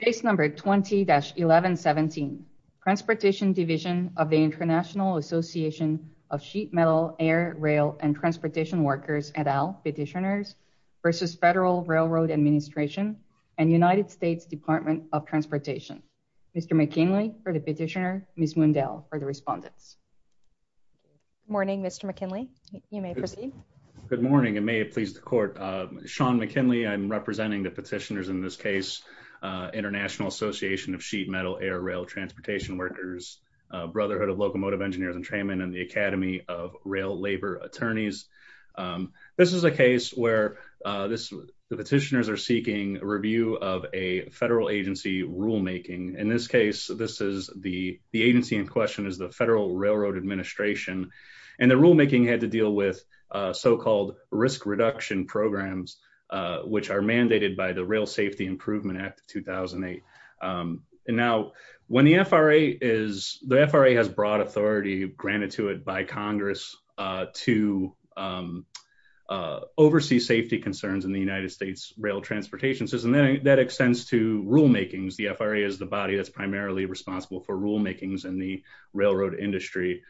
case number 20-1117 transportation division of the international association of sheet metal air rail and transportation workers et al petitioners versus federal railroad administration and united states department of transportation mr mckinley for the petitioner miss mondale for the respondents morning mr mckinley you may proceed good morning and may it please the court sean mckinley i'm representing the petitioners in this case uh international association of sheet metal air rail transportation workers uh brotherhood of locomotive engineers and trainmen and the academy of rail labor attorneys um this is a case where uh this the petitioners are seeking review of a federal agency rulemaking in this case this is the the agency in question is the federal railroad administration and the rulemaking had to deal with uh so-called risk reduction programs uh which are mandated by the rail safety improvement act of 2008 and now when the fra is the fra has broad authority granted to it by congress uh to oversee safety concerns in the united states rail transportation system that extends to rulemakings the fra is the body that's primarily responsible for rulemakings in the the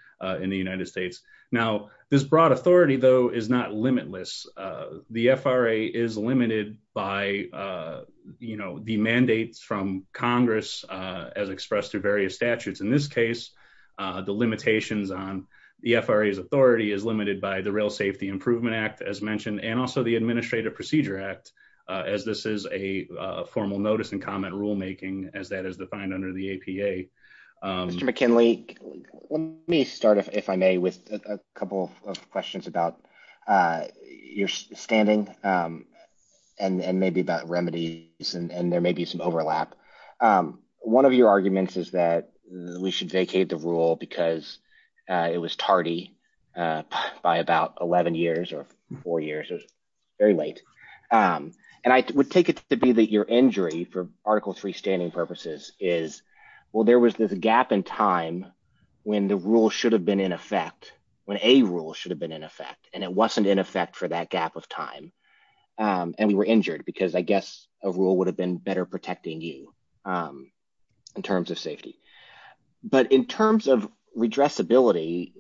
fra is limited by uh you know the mandates from congress uh as expressed through various statutes in this case uh the limitations on the fra's authority is limited by the rail safety improvement act as mentioned and also the administrative procedure act as this is a formal notice and comment rulemaking as that is defined under the apa mr mckinley let me start if i may with a couple of questions about uh your standing um and and maybe about remedies and there may be some overlap um one of your arguments is that we should vacate the rule because uh it was tardy uh by about 11 years or four years it was very late um and i would take it to be that your injury for article three standing purposes is well there was this gap in time when the rule should have been in effect when a rule should have been in effect and it wasn't in effect for that gap of time um and we were injured because i guess a rule would have been better protecting you um in terms of safety but in terms of redressability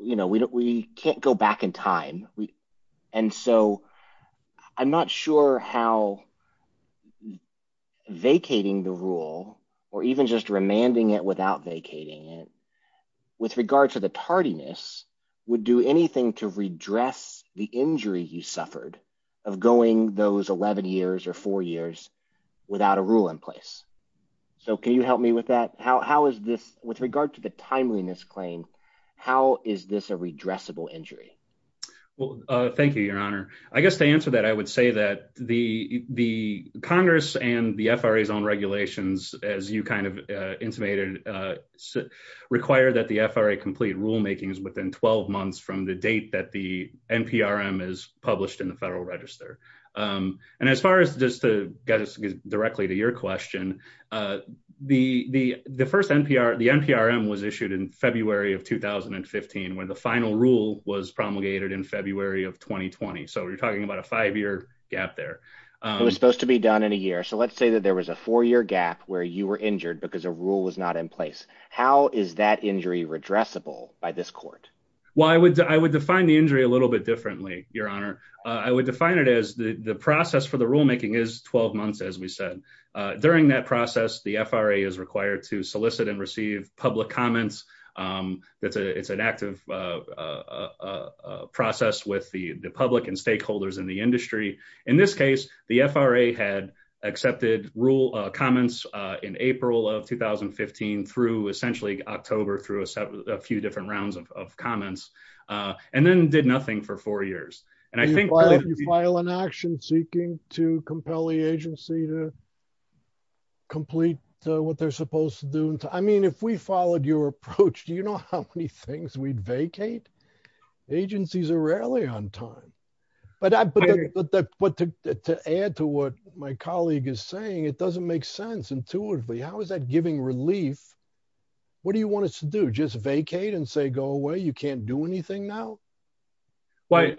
you know we can't go back in time we and so i'm not sure how vacating the rule or even just remanding it without vacating it with regard to the tardiness would do anything to redress the injury you suffered of going those 11 years or four years without a rule in place so can you help me with that how is this with regard to the timeliness claim how is this a redressable injury well uh thank you your honor i guess to answer that i would say that the the congress and the fra's own regulations as you kind of uh intimated uh require that the fra complete rule making is within 12 months from the date that the nprm is published in the federal register um and as far as just to get us directly to your question uh the the the first npr the nprm was issued in february of 2015 when the final rule was promulgated in february of 2020 so we're talking about a five-year gap there it was supposed to be done in a year so let's say that there was a four-year gap where you were injured because a rule was not in place how is that injury redressable by this court well i would i would define the injury a little bit differently your honor i would define it as the the process for the rule making is 12 months as we said uh during that process the fra is required to solicit and receive public comments um that's a it's an active uh a process with the the public and stakeholders in the industry in this case the fra had accepted rule comments uh in april of 2015 through essentially october through a few different rounds of comments uh and then did nothing for four years and i think you file an action seeking to compel the agency to complete what they're supposed to do i mean if we followed your approach do you know how many things we'd vacate agencies are rarely on time but i put that but to add to what my colleague is saying it doesn't make sense intuitively how is that giving relief what do you want us to do just vacate and say go away you can't do anything now why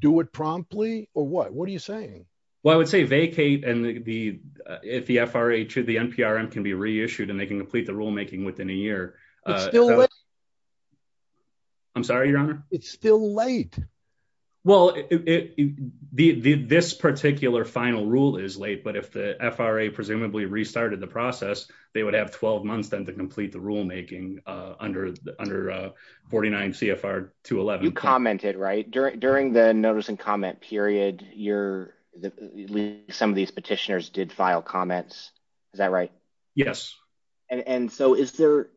do it promptly or what what are you saying well i would say vacate and the if the fra to the nprm can be reissued and they can complete the rule making within a year i'm sorry your honor it's still late well it the this particular final rule is late but if the fra presumably restarted the process they would have 12 months then to complete the rule making uh under the under uh 49 cfr 211 you commented right during during the notice and comment period your some of these petitioners did file comments is that right yes and and so is there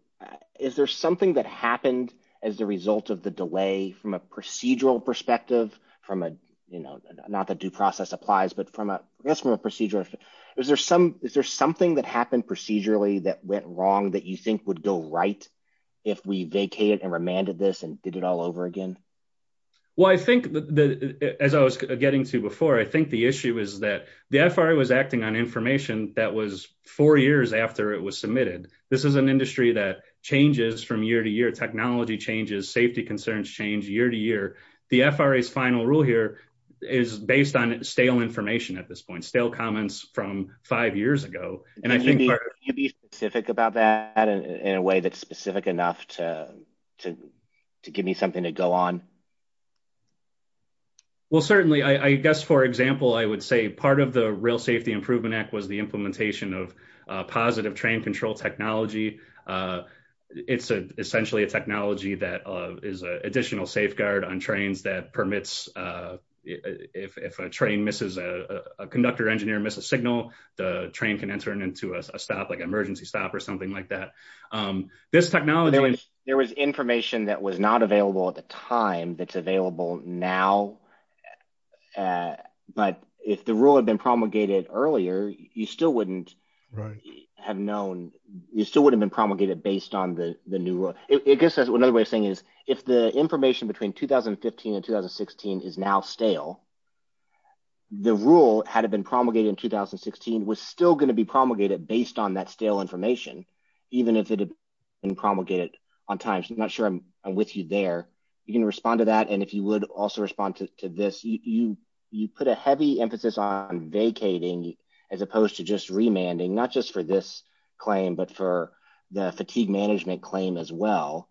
is there something that happened as a result of the delay from a procedural perspective from a you know not that due process applies but from a that's from a procedure is there some is there something that happened procedurally that went wrong that you think would go right if we vacated and remanded this and did it all over again well i think that as i was getting to before i think the issue is that the fra was acting on information that was four years after it was submitted this is an industry that changes from year to year technology changes safety concerns change year to year the fra's final rule here is based on stale information at this point stale comments from five years ago and i think you'd be specific about that in a way that's specific enough to to give me something to go on well certainly i i guess for example i would say part of the rail safety improvement act was the implementation of positive train control technology uh it's a essentially a technology that is a additional safeguard on trains that permits uh if if a train misses a a conductor engineer miss a signal the train can enter into a stop like emergency stop or something like that um this technology there was information that was now uh but if the rule had been promulgated earlier you still wouldn't right have known you still would have been promulgated based on the the new rule i guess that's another way of saying is if the information between 2015 and 2016 is now stale the rule had it been promulgated in 2016 was still going to be promulgated based on that stale information even if it had been promulgated on time so i'm not sure i'm with you there you can respond to that and if you would also respond to this you you put a heavy emphasis on vacating as opposed to just remanding not just for this claim but for the fatigue management claim as well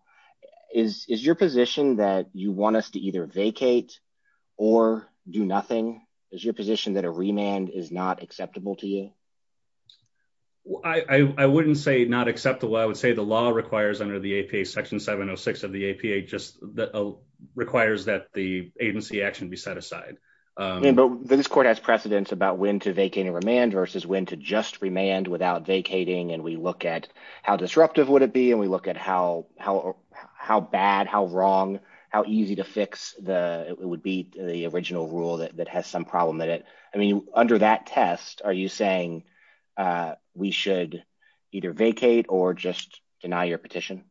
is is your position that you want us to either vacate or do nothing is your position that a remand is not acceptable to you i i wouldn't say not acceptable i would say the law requires under the apa section 706 of the apa just that requires that the agency action be set aside um but this court has precedents about when to vacate and remand versus when to just remand without vacating and we look at how disruptive would it be and we look at how how how bad how wrong how easy to fix the it would be the original rule that that has some problem that it i mean under that test are you saying uh we should either vacate or just deny your petition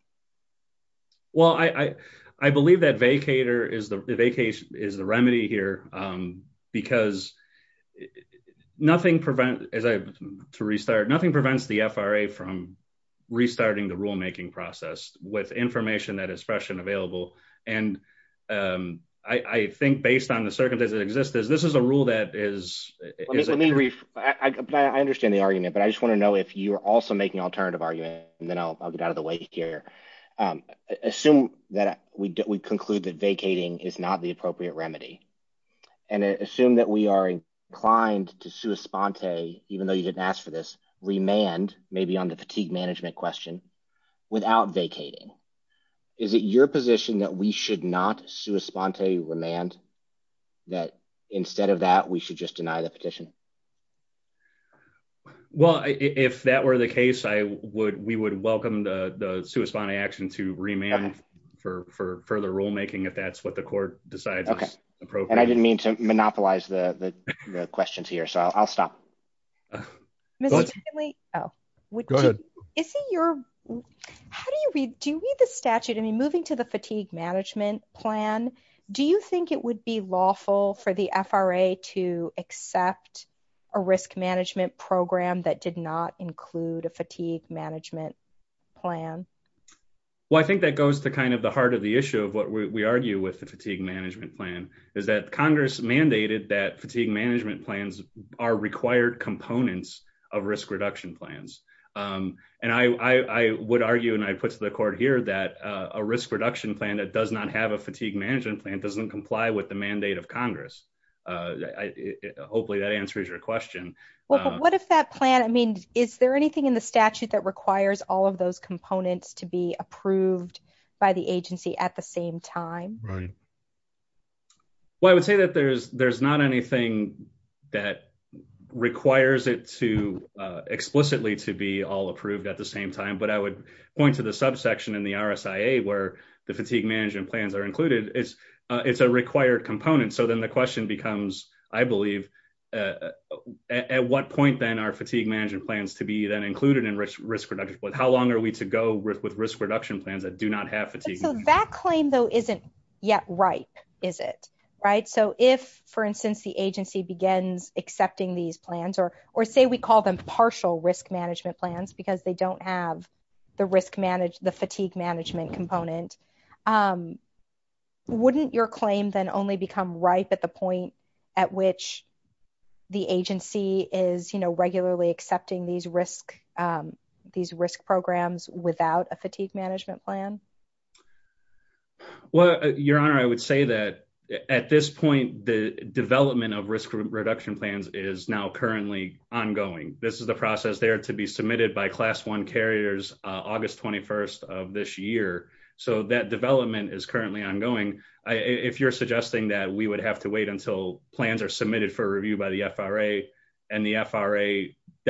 well i i i believe that vacator is the vacation is the remedy here um because nothing prevent as i to restart nothing prevents the fra from restarting the rulemaking process with information that expression available and um i i think based on the circumstances that exist is this is a rule that is let me re i understand the argument but i just want to know if you're also making alternative argument and then i'll get out of the way here um assume that we do we conclude that vacating is not the appropriate remedy and assume that we are inclined to sue espont a even though you didn't ask for this remand maybe on the fatigue management question without vacating is it your position that we should not sue espont a remand that instead of that we should just deny the petition well if that were the case i would we would welcome the the suespanti action to remand for for further rulemaking if that's what the court decides okay appropriate i didn't mean to monopolize the the questions here so i'll stop mr oh go ahead is it your how do you read do you read the statute i mean moving to the fatigue management plan do you think it would be lawful for the fra to accept a risk management program that did not include a fatigue management plan well i think that goes to kind of the heart of the issue of what we argue with the fatigue management plan is that congress mandated that of risk reduction plans um and i i i would argue and i put to the court here that uh a risk reduction plan that does not have a fatigue management plan doesn't comply with the mandate of congress uh hopefully that answers your question well what if that plan i mean is there anything in the statute that requires all of those components to be approved by the agency at the same time right well i would say that there's there's not anything that requires it to uh explicitly to be all approved at the same time but i would point to the subsection in the rsia where the fatigue management plans are included it's uh it's a required component so then the question becomes i believe uh at what point then are fatigue management plans to be then included in risk risk reduction but how long are we to go with risk reduction plans that do not have fatigue that claim though isn't yet ripe is it right so if for instance the agency begins accepting these plans or or say we call them partial risk management plans because they don't have the risk manage the fatigue management component um wouldn't your claim then only become ripe at the point at which the agency is you know regularly accepting these risk um these risk programs without a fatigue management plan well your honor i would say that at this point the development of risk reduction plans is now currently ongoing this is the process there to be submitted by class one carriers uh august 21st of this year so that development is currently ongoing i if you're suggesting that we would have to wait until plans are submitted for review by the fra and the fra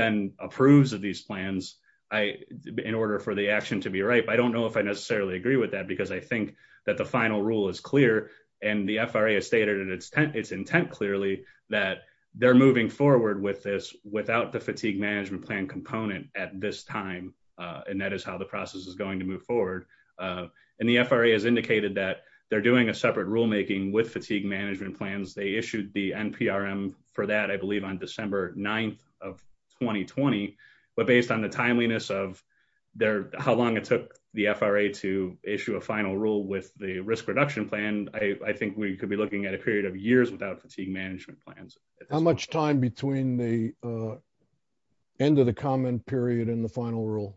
then approves of these plans i in order for the action to be right but i don't know if i necessarily agree with that because i think that the final rule is clear and the fra has stated in its intent clearly that they're moving forward with this without the fatigue management plan component at this time uh and that is how the process is going to move forward uh and the fra has indicated that they're doing a separate rule making with fatigue management plans they issued the nprm for that i believe on december 9th of 2020 but based on the timeliness of their how long it took the fra to issue a final rule with the risk reduction plan i i think we could be looking at a period of years without fatigue management plans how much time between the uh end of the comment period and the final rule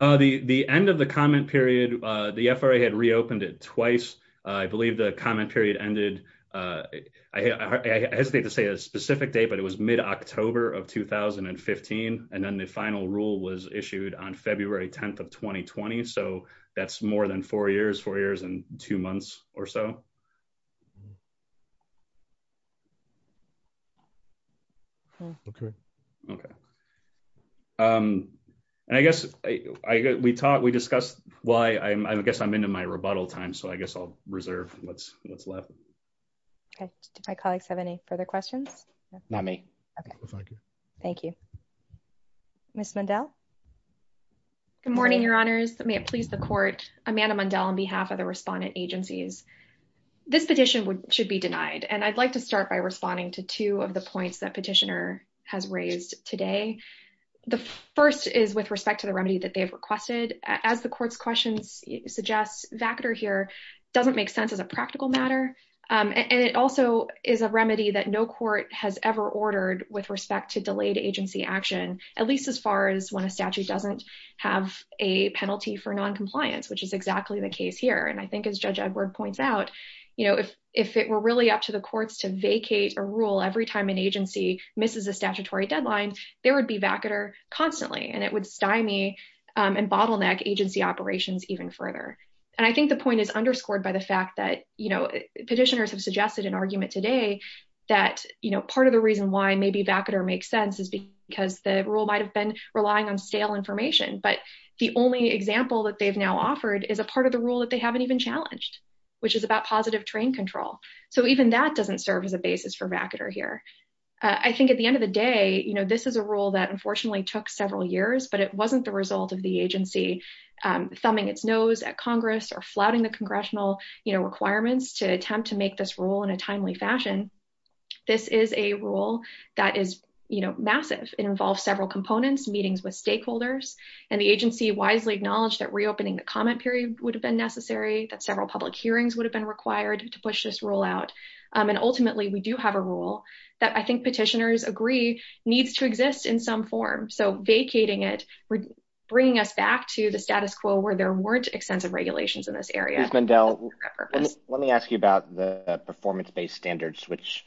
uh the the end of the comment period uh the fra had reopened it twice i believe the comment period ended uh i i hesitate to say a specific day but it was mid-october of 2015 and then the final rule was issued on february 10th of 2020 so that's more than four years four years and two months or so um okay okay um and i guess i we talked we discussed why i'm i guess i'm into my rebuttal time so i guess i'll reserve what's what's left okay do my colleagues have any further questions not me okay thank you thank you miss mondell good morning your honors may it please the court amanda mondell on behalf of the respondent agencies this petition would should be denied and i'd like to start by responding to two of the points that petitioner has raised today the first is with respect to the remedy that they've requested as the court's questions suggests vacater here doesn't make sense as a practical matter and it also is a remedy that no court has ever ordered with respect to delayed agency action at least as far as when a statute doesn't have a penalty for non-compliance which is exactly the case here and i think as judge edward points out you know if if it were really up to the courts to vacate a rule every time an agency misses a statutory deadline there would be vacater constantly and it would stymie and bottleneck agency operations even further and i think the point is underscored by the fact that you know petitioners have suggested an argument today that you know part of the reason why maybe vacater makes sense is because the rule might have been relying on stale information but the only example that they've now offered is a part of the rule that they haven't even challenged which is about positive train control so even that doesn't serve as a basis for vacater here i think at the end of the day you know this is a rule that unfortunately took several years but it wasn't the result of the agency thumbing its nose at congress or flouting the congressional you know requirements to attempt to make this rule in a timely fashion this is a rule that is you know massive it involves several components meetings with stakeholders and the agency wisely acknowledged that reopening the comment period would have been necessary that several public hearings would have been required to push this rule out and ultimately we do have a rule that i think petitioners agree needs to exist in some form so vacating it we're bringing us back to the status quo where there weren't extensive regulations in this area and let me ask you about the performance-based standards which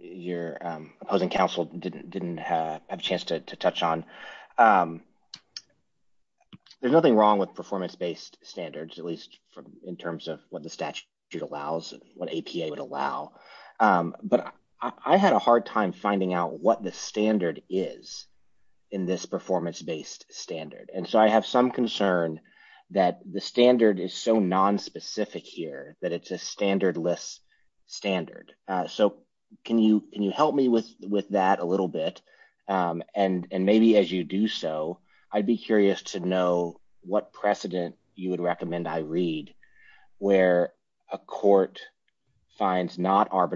your opposing counsel didn't didn't have a chance to touch on there's nothing wrong with performance-based standards at least in terms of what the statute allows what apa would allow but i had a hard time finding out what the standard is in this standard and so i have some concern that the standard is so non-specific here that it's a standardless standard uh so can you can you help me with with that a little bit um and and maybe as you do so i'd be curious to know what precedent you would recommend i read where a court finds not here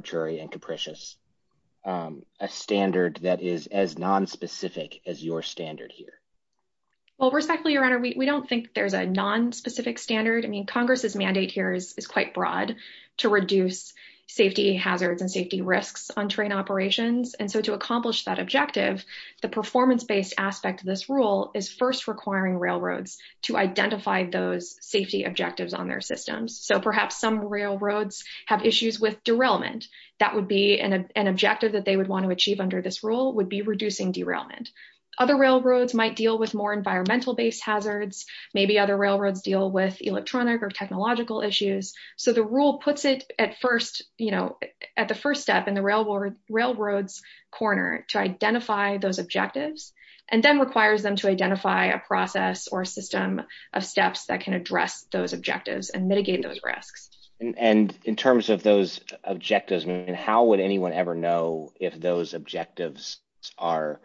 well respectfully your honor we don't think there's a non-specific standard i mean congress's mandate here is quite broad to reduce safety hazards and safety risks on train operations and so to accomplish that objective the performance-based aspect of this rule is first requiring railroads to identify those safety objectives on their systems so perhaps some railroads have issues with derailment that would be an objective that they would achieve under this rule would be reducing derailment other railroads might deal with more environmental-based hazards maybe other railroads deal with electronic or technological issues so the rule puts it at first you know at the first step in the railroad railroads corner to identify those objectives and then requires them to identify a process or a system of steps that can address those objectives and mitigate those risks and in terms of those objectives how would anyone ever know if those objectives are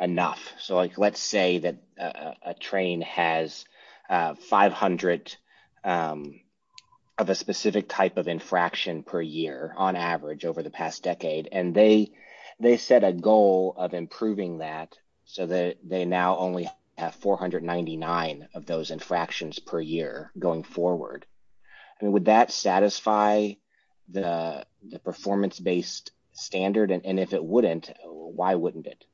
enough so like let's say that a train has 500 of a specific type of infraction per year on average over the past decade and they they set a goal of improving that so that they now only have 499 of those infractions per year going forward I mean would that satisfy the performance-based standard and if it wouldn't why wouldn't it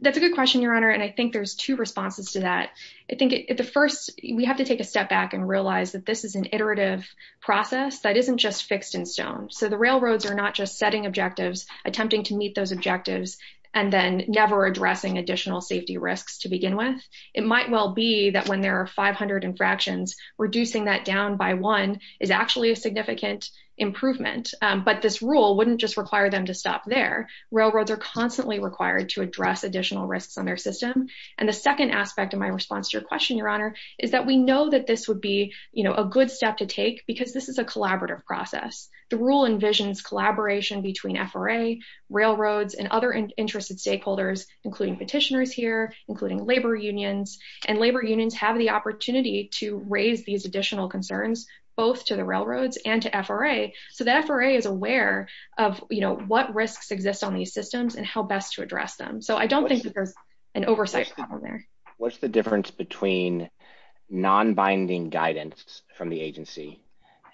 that's a good question your honor and I think there's two responses to that I think at the first we have to take a step back and realize that this is an iterative process that isn't just fixed in stone so the railroads are not just setting objectives attempting to meet those objectives and then never addressing additional safety risks to begin with it might well be that when there are 500 infractions reducing that down by one is actually a significant improvement but this rule wouldn't just require them to stop there railroads are constantly required to address additional risks on their system and the second aspect of my response to your question your honor is that we know that this would be you know a good step to take because this is a collaborative process the rule envisions collaboration between FRA railroads and other interested stakeholders including petitioners here including labor unions and labor unions have the opportunity to raise these additional concerns both to the railroads and to FRA so that FRA is aware of you know what risks exist on these systems and how best to address them so I don't think there's an oversight problem there what's the difference between non-binding guidance from the agency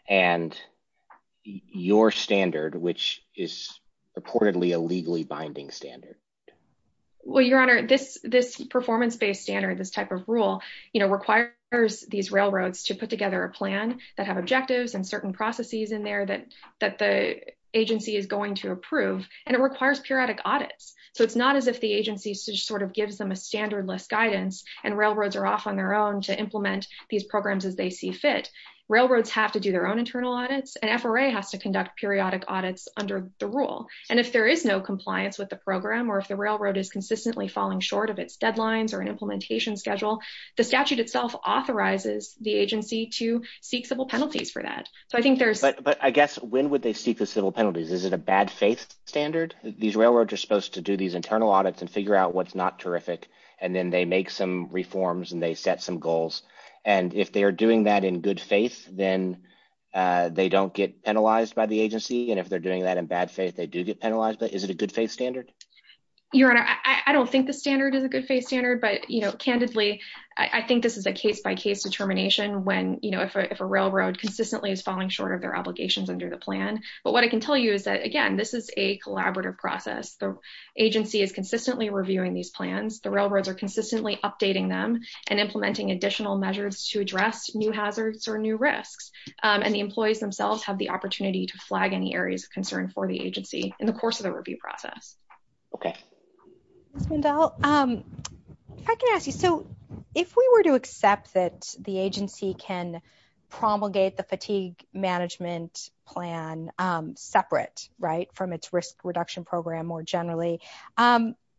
and your standard which is reportedly a legally binding standard well your honor this this performance-based standard this type of rule you know requires these railroads to put together a plan that have objectives and certain processes in there that that the agency is going to approve and it requires periodic audits so it's not as if the agency sort of gives them a standard list guidance and railroads are off on their own to implement these programs as they see fit railroads have to do their own internal audits and FRA has to conduct periodic audits under the rule and if there is no compliance with the program or if the railroad is consistently falling short of its deadlines or an implementation schedule the statute itself authorizes the agency to seek civil penalties for that so I think there's but but I guess when would they seek the civil penalties is it a bad faith standard these railroads are supposed to do these internal audits and figure out what's not terrific and then they make some reforms and they set some goals and if they are doing that in good faith then they don't get penalized by the agency and if they're doing that in bad faith they do get penalized but is it a good faith standard your honor I don't think the standard is a good faith standard but you know candidly I think this is a case-by-case determination when you know if a railroad consistently is falling short of their obligations under the plan but what I can tell you is that again this is a collaborative process the agency is consistently reviewing these plans the railroads are consistently updating them and implementing additional measures to address new hazards or new risks and the employees themselves have the opportunity to flag any areas of concern for the agency in the course of the review process okay I can ask you so if we were to accept that the agency can promulgate the fatigue management plan separate right from its risk reduction program more generally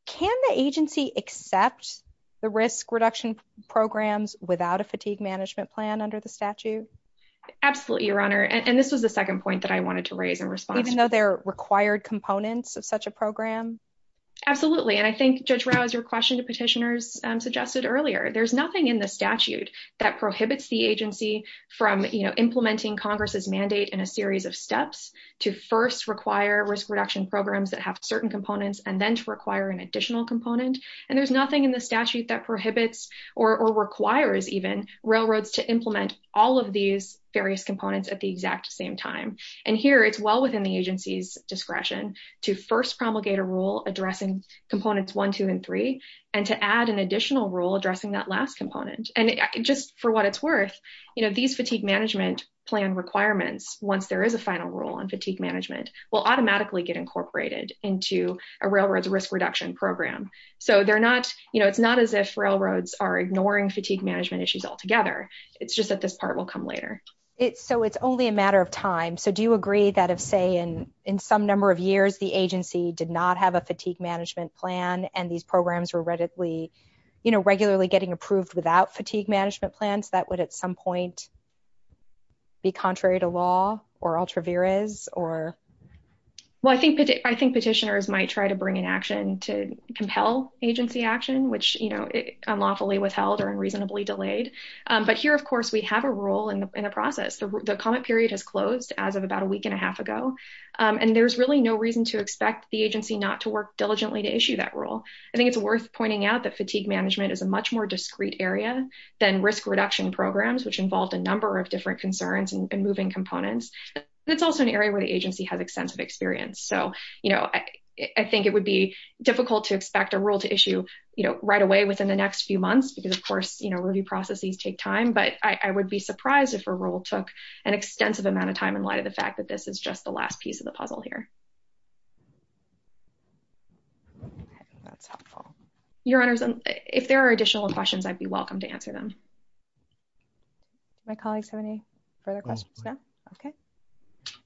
can the agency accept the risk reduction programs without a fatigue management plan under the statute absolutely your honor and this was the second point that I wanted to raise in response even though they're required components of such a program absolutely and I think Judge Rao is your question to petitioners suggested earlier there's nothing in the statute that prohibits the agency from you know implementing congress's mandate in a series of steps to first require risk reduction programs that have certain components and then to require an additional component and there's nothing in the statute that prohibits or requires even railroads to implement all of these various components at the exact same time and here it's well within the agency's discretion to first promulgate a rule addressing components one two and three and to add an additional rule addressing that last component and just for what it's worth you know these fatigue management plan requirements once there is a final rule on fatigue management will automatically get incorporated into a railroad's risk reduction program so they're not it's not as if railroads are ignoring fatigue management issues altogether it's just that this part will come later it's so it's only a matter of time so do you agree that if say in in some number of years the agency did not have a fatigue management plan and these programs were readily you know regularly getting approved without fatigue management plans that would at some point be contrary to law or ultra viras or well I think I think petitioners might try to bring action to compel agency action which you know unlawfully withheld or unreasonably delayed but here of course we have a rule in the process the comment period has closed as of about a week and a half ago and there's really no reason to expect the agency not to work diligently to issue that rule I think it's worth pointing out that fatigue management is a much more discrete area than risk reduction programs which involved a number of different concerns and moving components it's also an area where the agency has extensive experience so you know I think it would be difficult to expect a rule to issue you know right away within the next few months because of course you know review processes take time but I would be surprised if a rule took an extensive amount of time in light of the fact that this is just the last piece of the puzzle here that's helpful your honors and if there are additional questions I'd be welcome to answer them my colleagues have any further questions no okay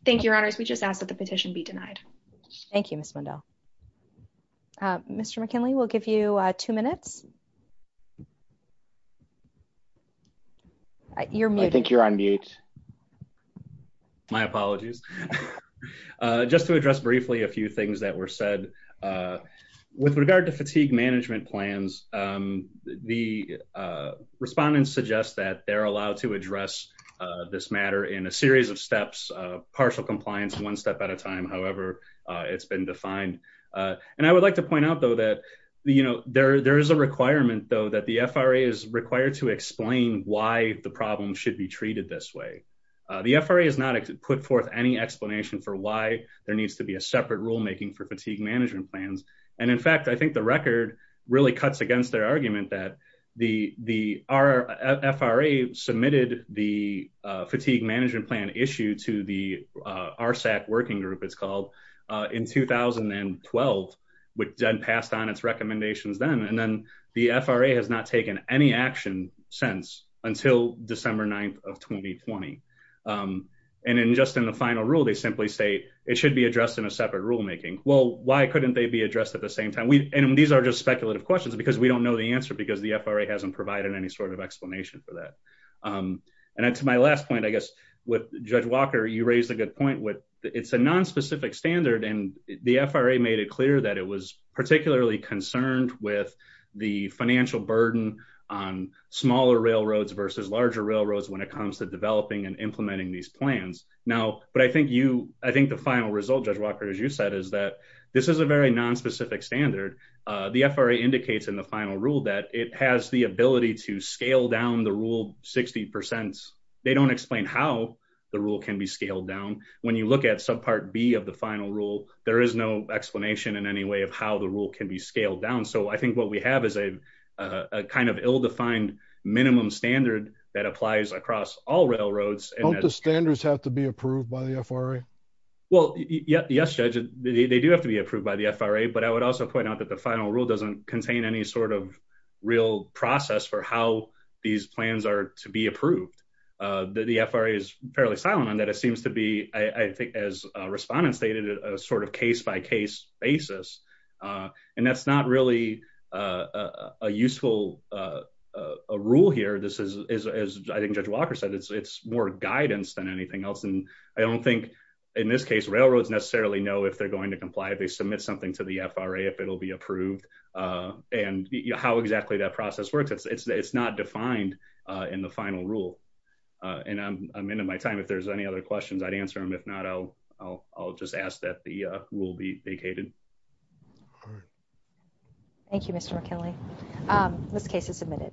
thank you your honors we just ask that petition be denied thank you miss mundell uh mr mckinley we'll give you uh two minutes you're muted I think you're on mute my apologies uh just to address briefly a few things that were said uh with regard to fatigue management plans um the uh respondents suggest that they're allowed to address uh this matter in a series of steps partial compliance one step at a time however it's been defined uh and I would like to point out though that you know there there is a requirement though that the FRA is required to explain why the problem should be treated this way the FRA has not put forth any explanation for why there needs to be a separate rule making for fatigue management plans and in fact I think the record really cuts against their argument that the the our FRA submitted the fatigue management plan issue to the RSAC working group it's called in 2012 which then passed on its recommendations then and then the FRA has not taken any action since until December 9th of 2020 and in just in the final rule they simply say it should be addressed in a separate rule making well why couldn't they be addressed at the same time we and these are just speculative questions because we don't know the answer because the FRA hasn't provided any sort of explanation for that um and to my last point I guess with Judge Walker you raised a good point with it's a non-specific standard and the FRA made it clear that it was particularly concerned with the financial burden on smaller railroads versus larger railroads when it comes to developing and implementing these plans now but I think you I think the final result Judge Walker as you said is that this is a very non-specific standard uh the FRA indicates in the ability to scale down the rule 60 percent they don't explain how the rule can be scaled down when you look at subpart b of the final rule there is no explanation in any way of how the rule can be scaled down so I think what we have is a a kind of ill-defined minimum standard that applies across all railroads and the standards have to be approved by the FRA well yeah yes Judge they do have to be approved by the FRA but I would also point out that the final rule doesn't contain any sort of real process for how these plans are to be approved uh that the FRA is fairly silent on that it seems to be I think as respondents stated a sort of case-by-case basis uh and that's not really uh a useful uh a rule here this is as I think Judge Walker said it's it's more guidance than anything else and I don't think in this case railroads necessarily know if they're going to how exactly that process works it's it's it's not defined uh in the final rule uh and I'm I'm into my time if there's any other questions I'd answer them if not I'll I'll I'll just ask that the uh rule be vacated thank you Mr. McKinley um this case is submitted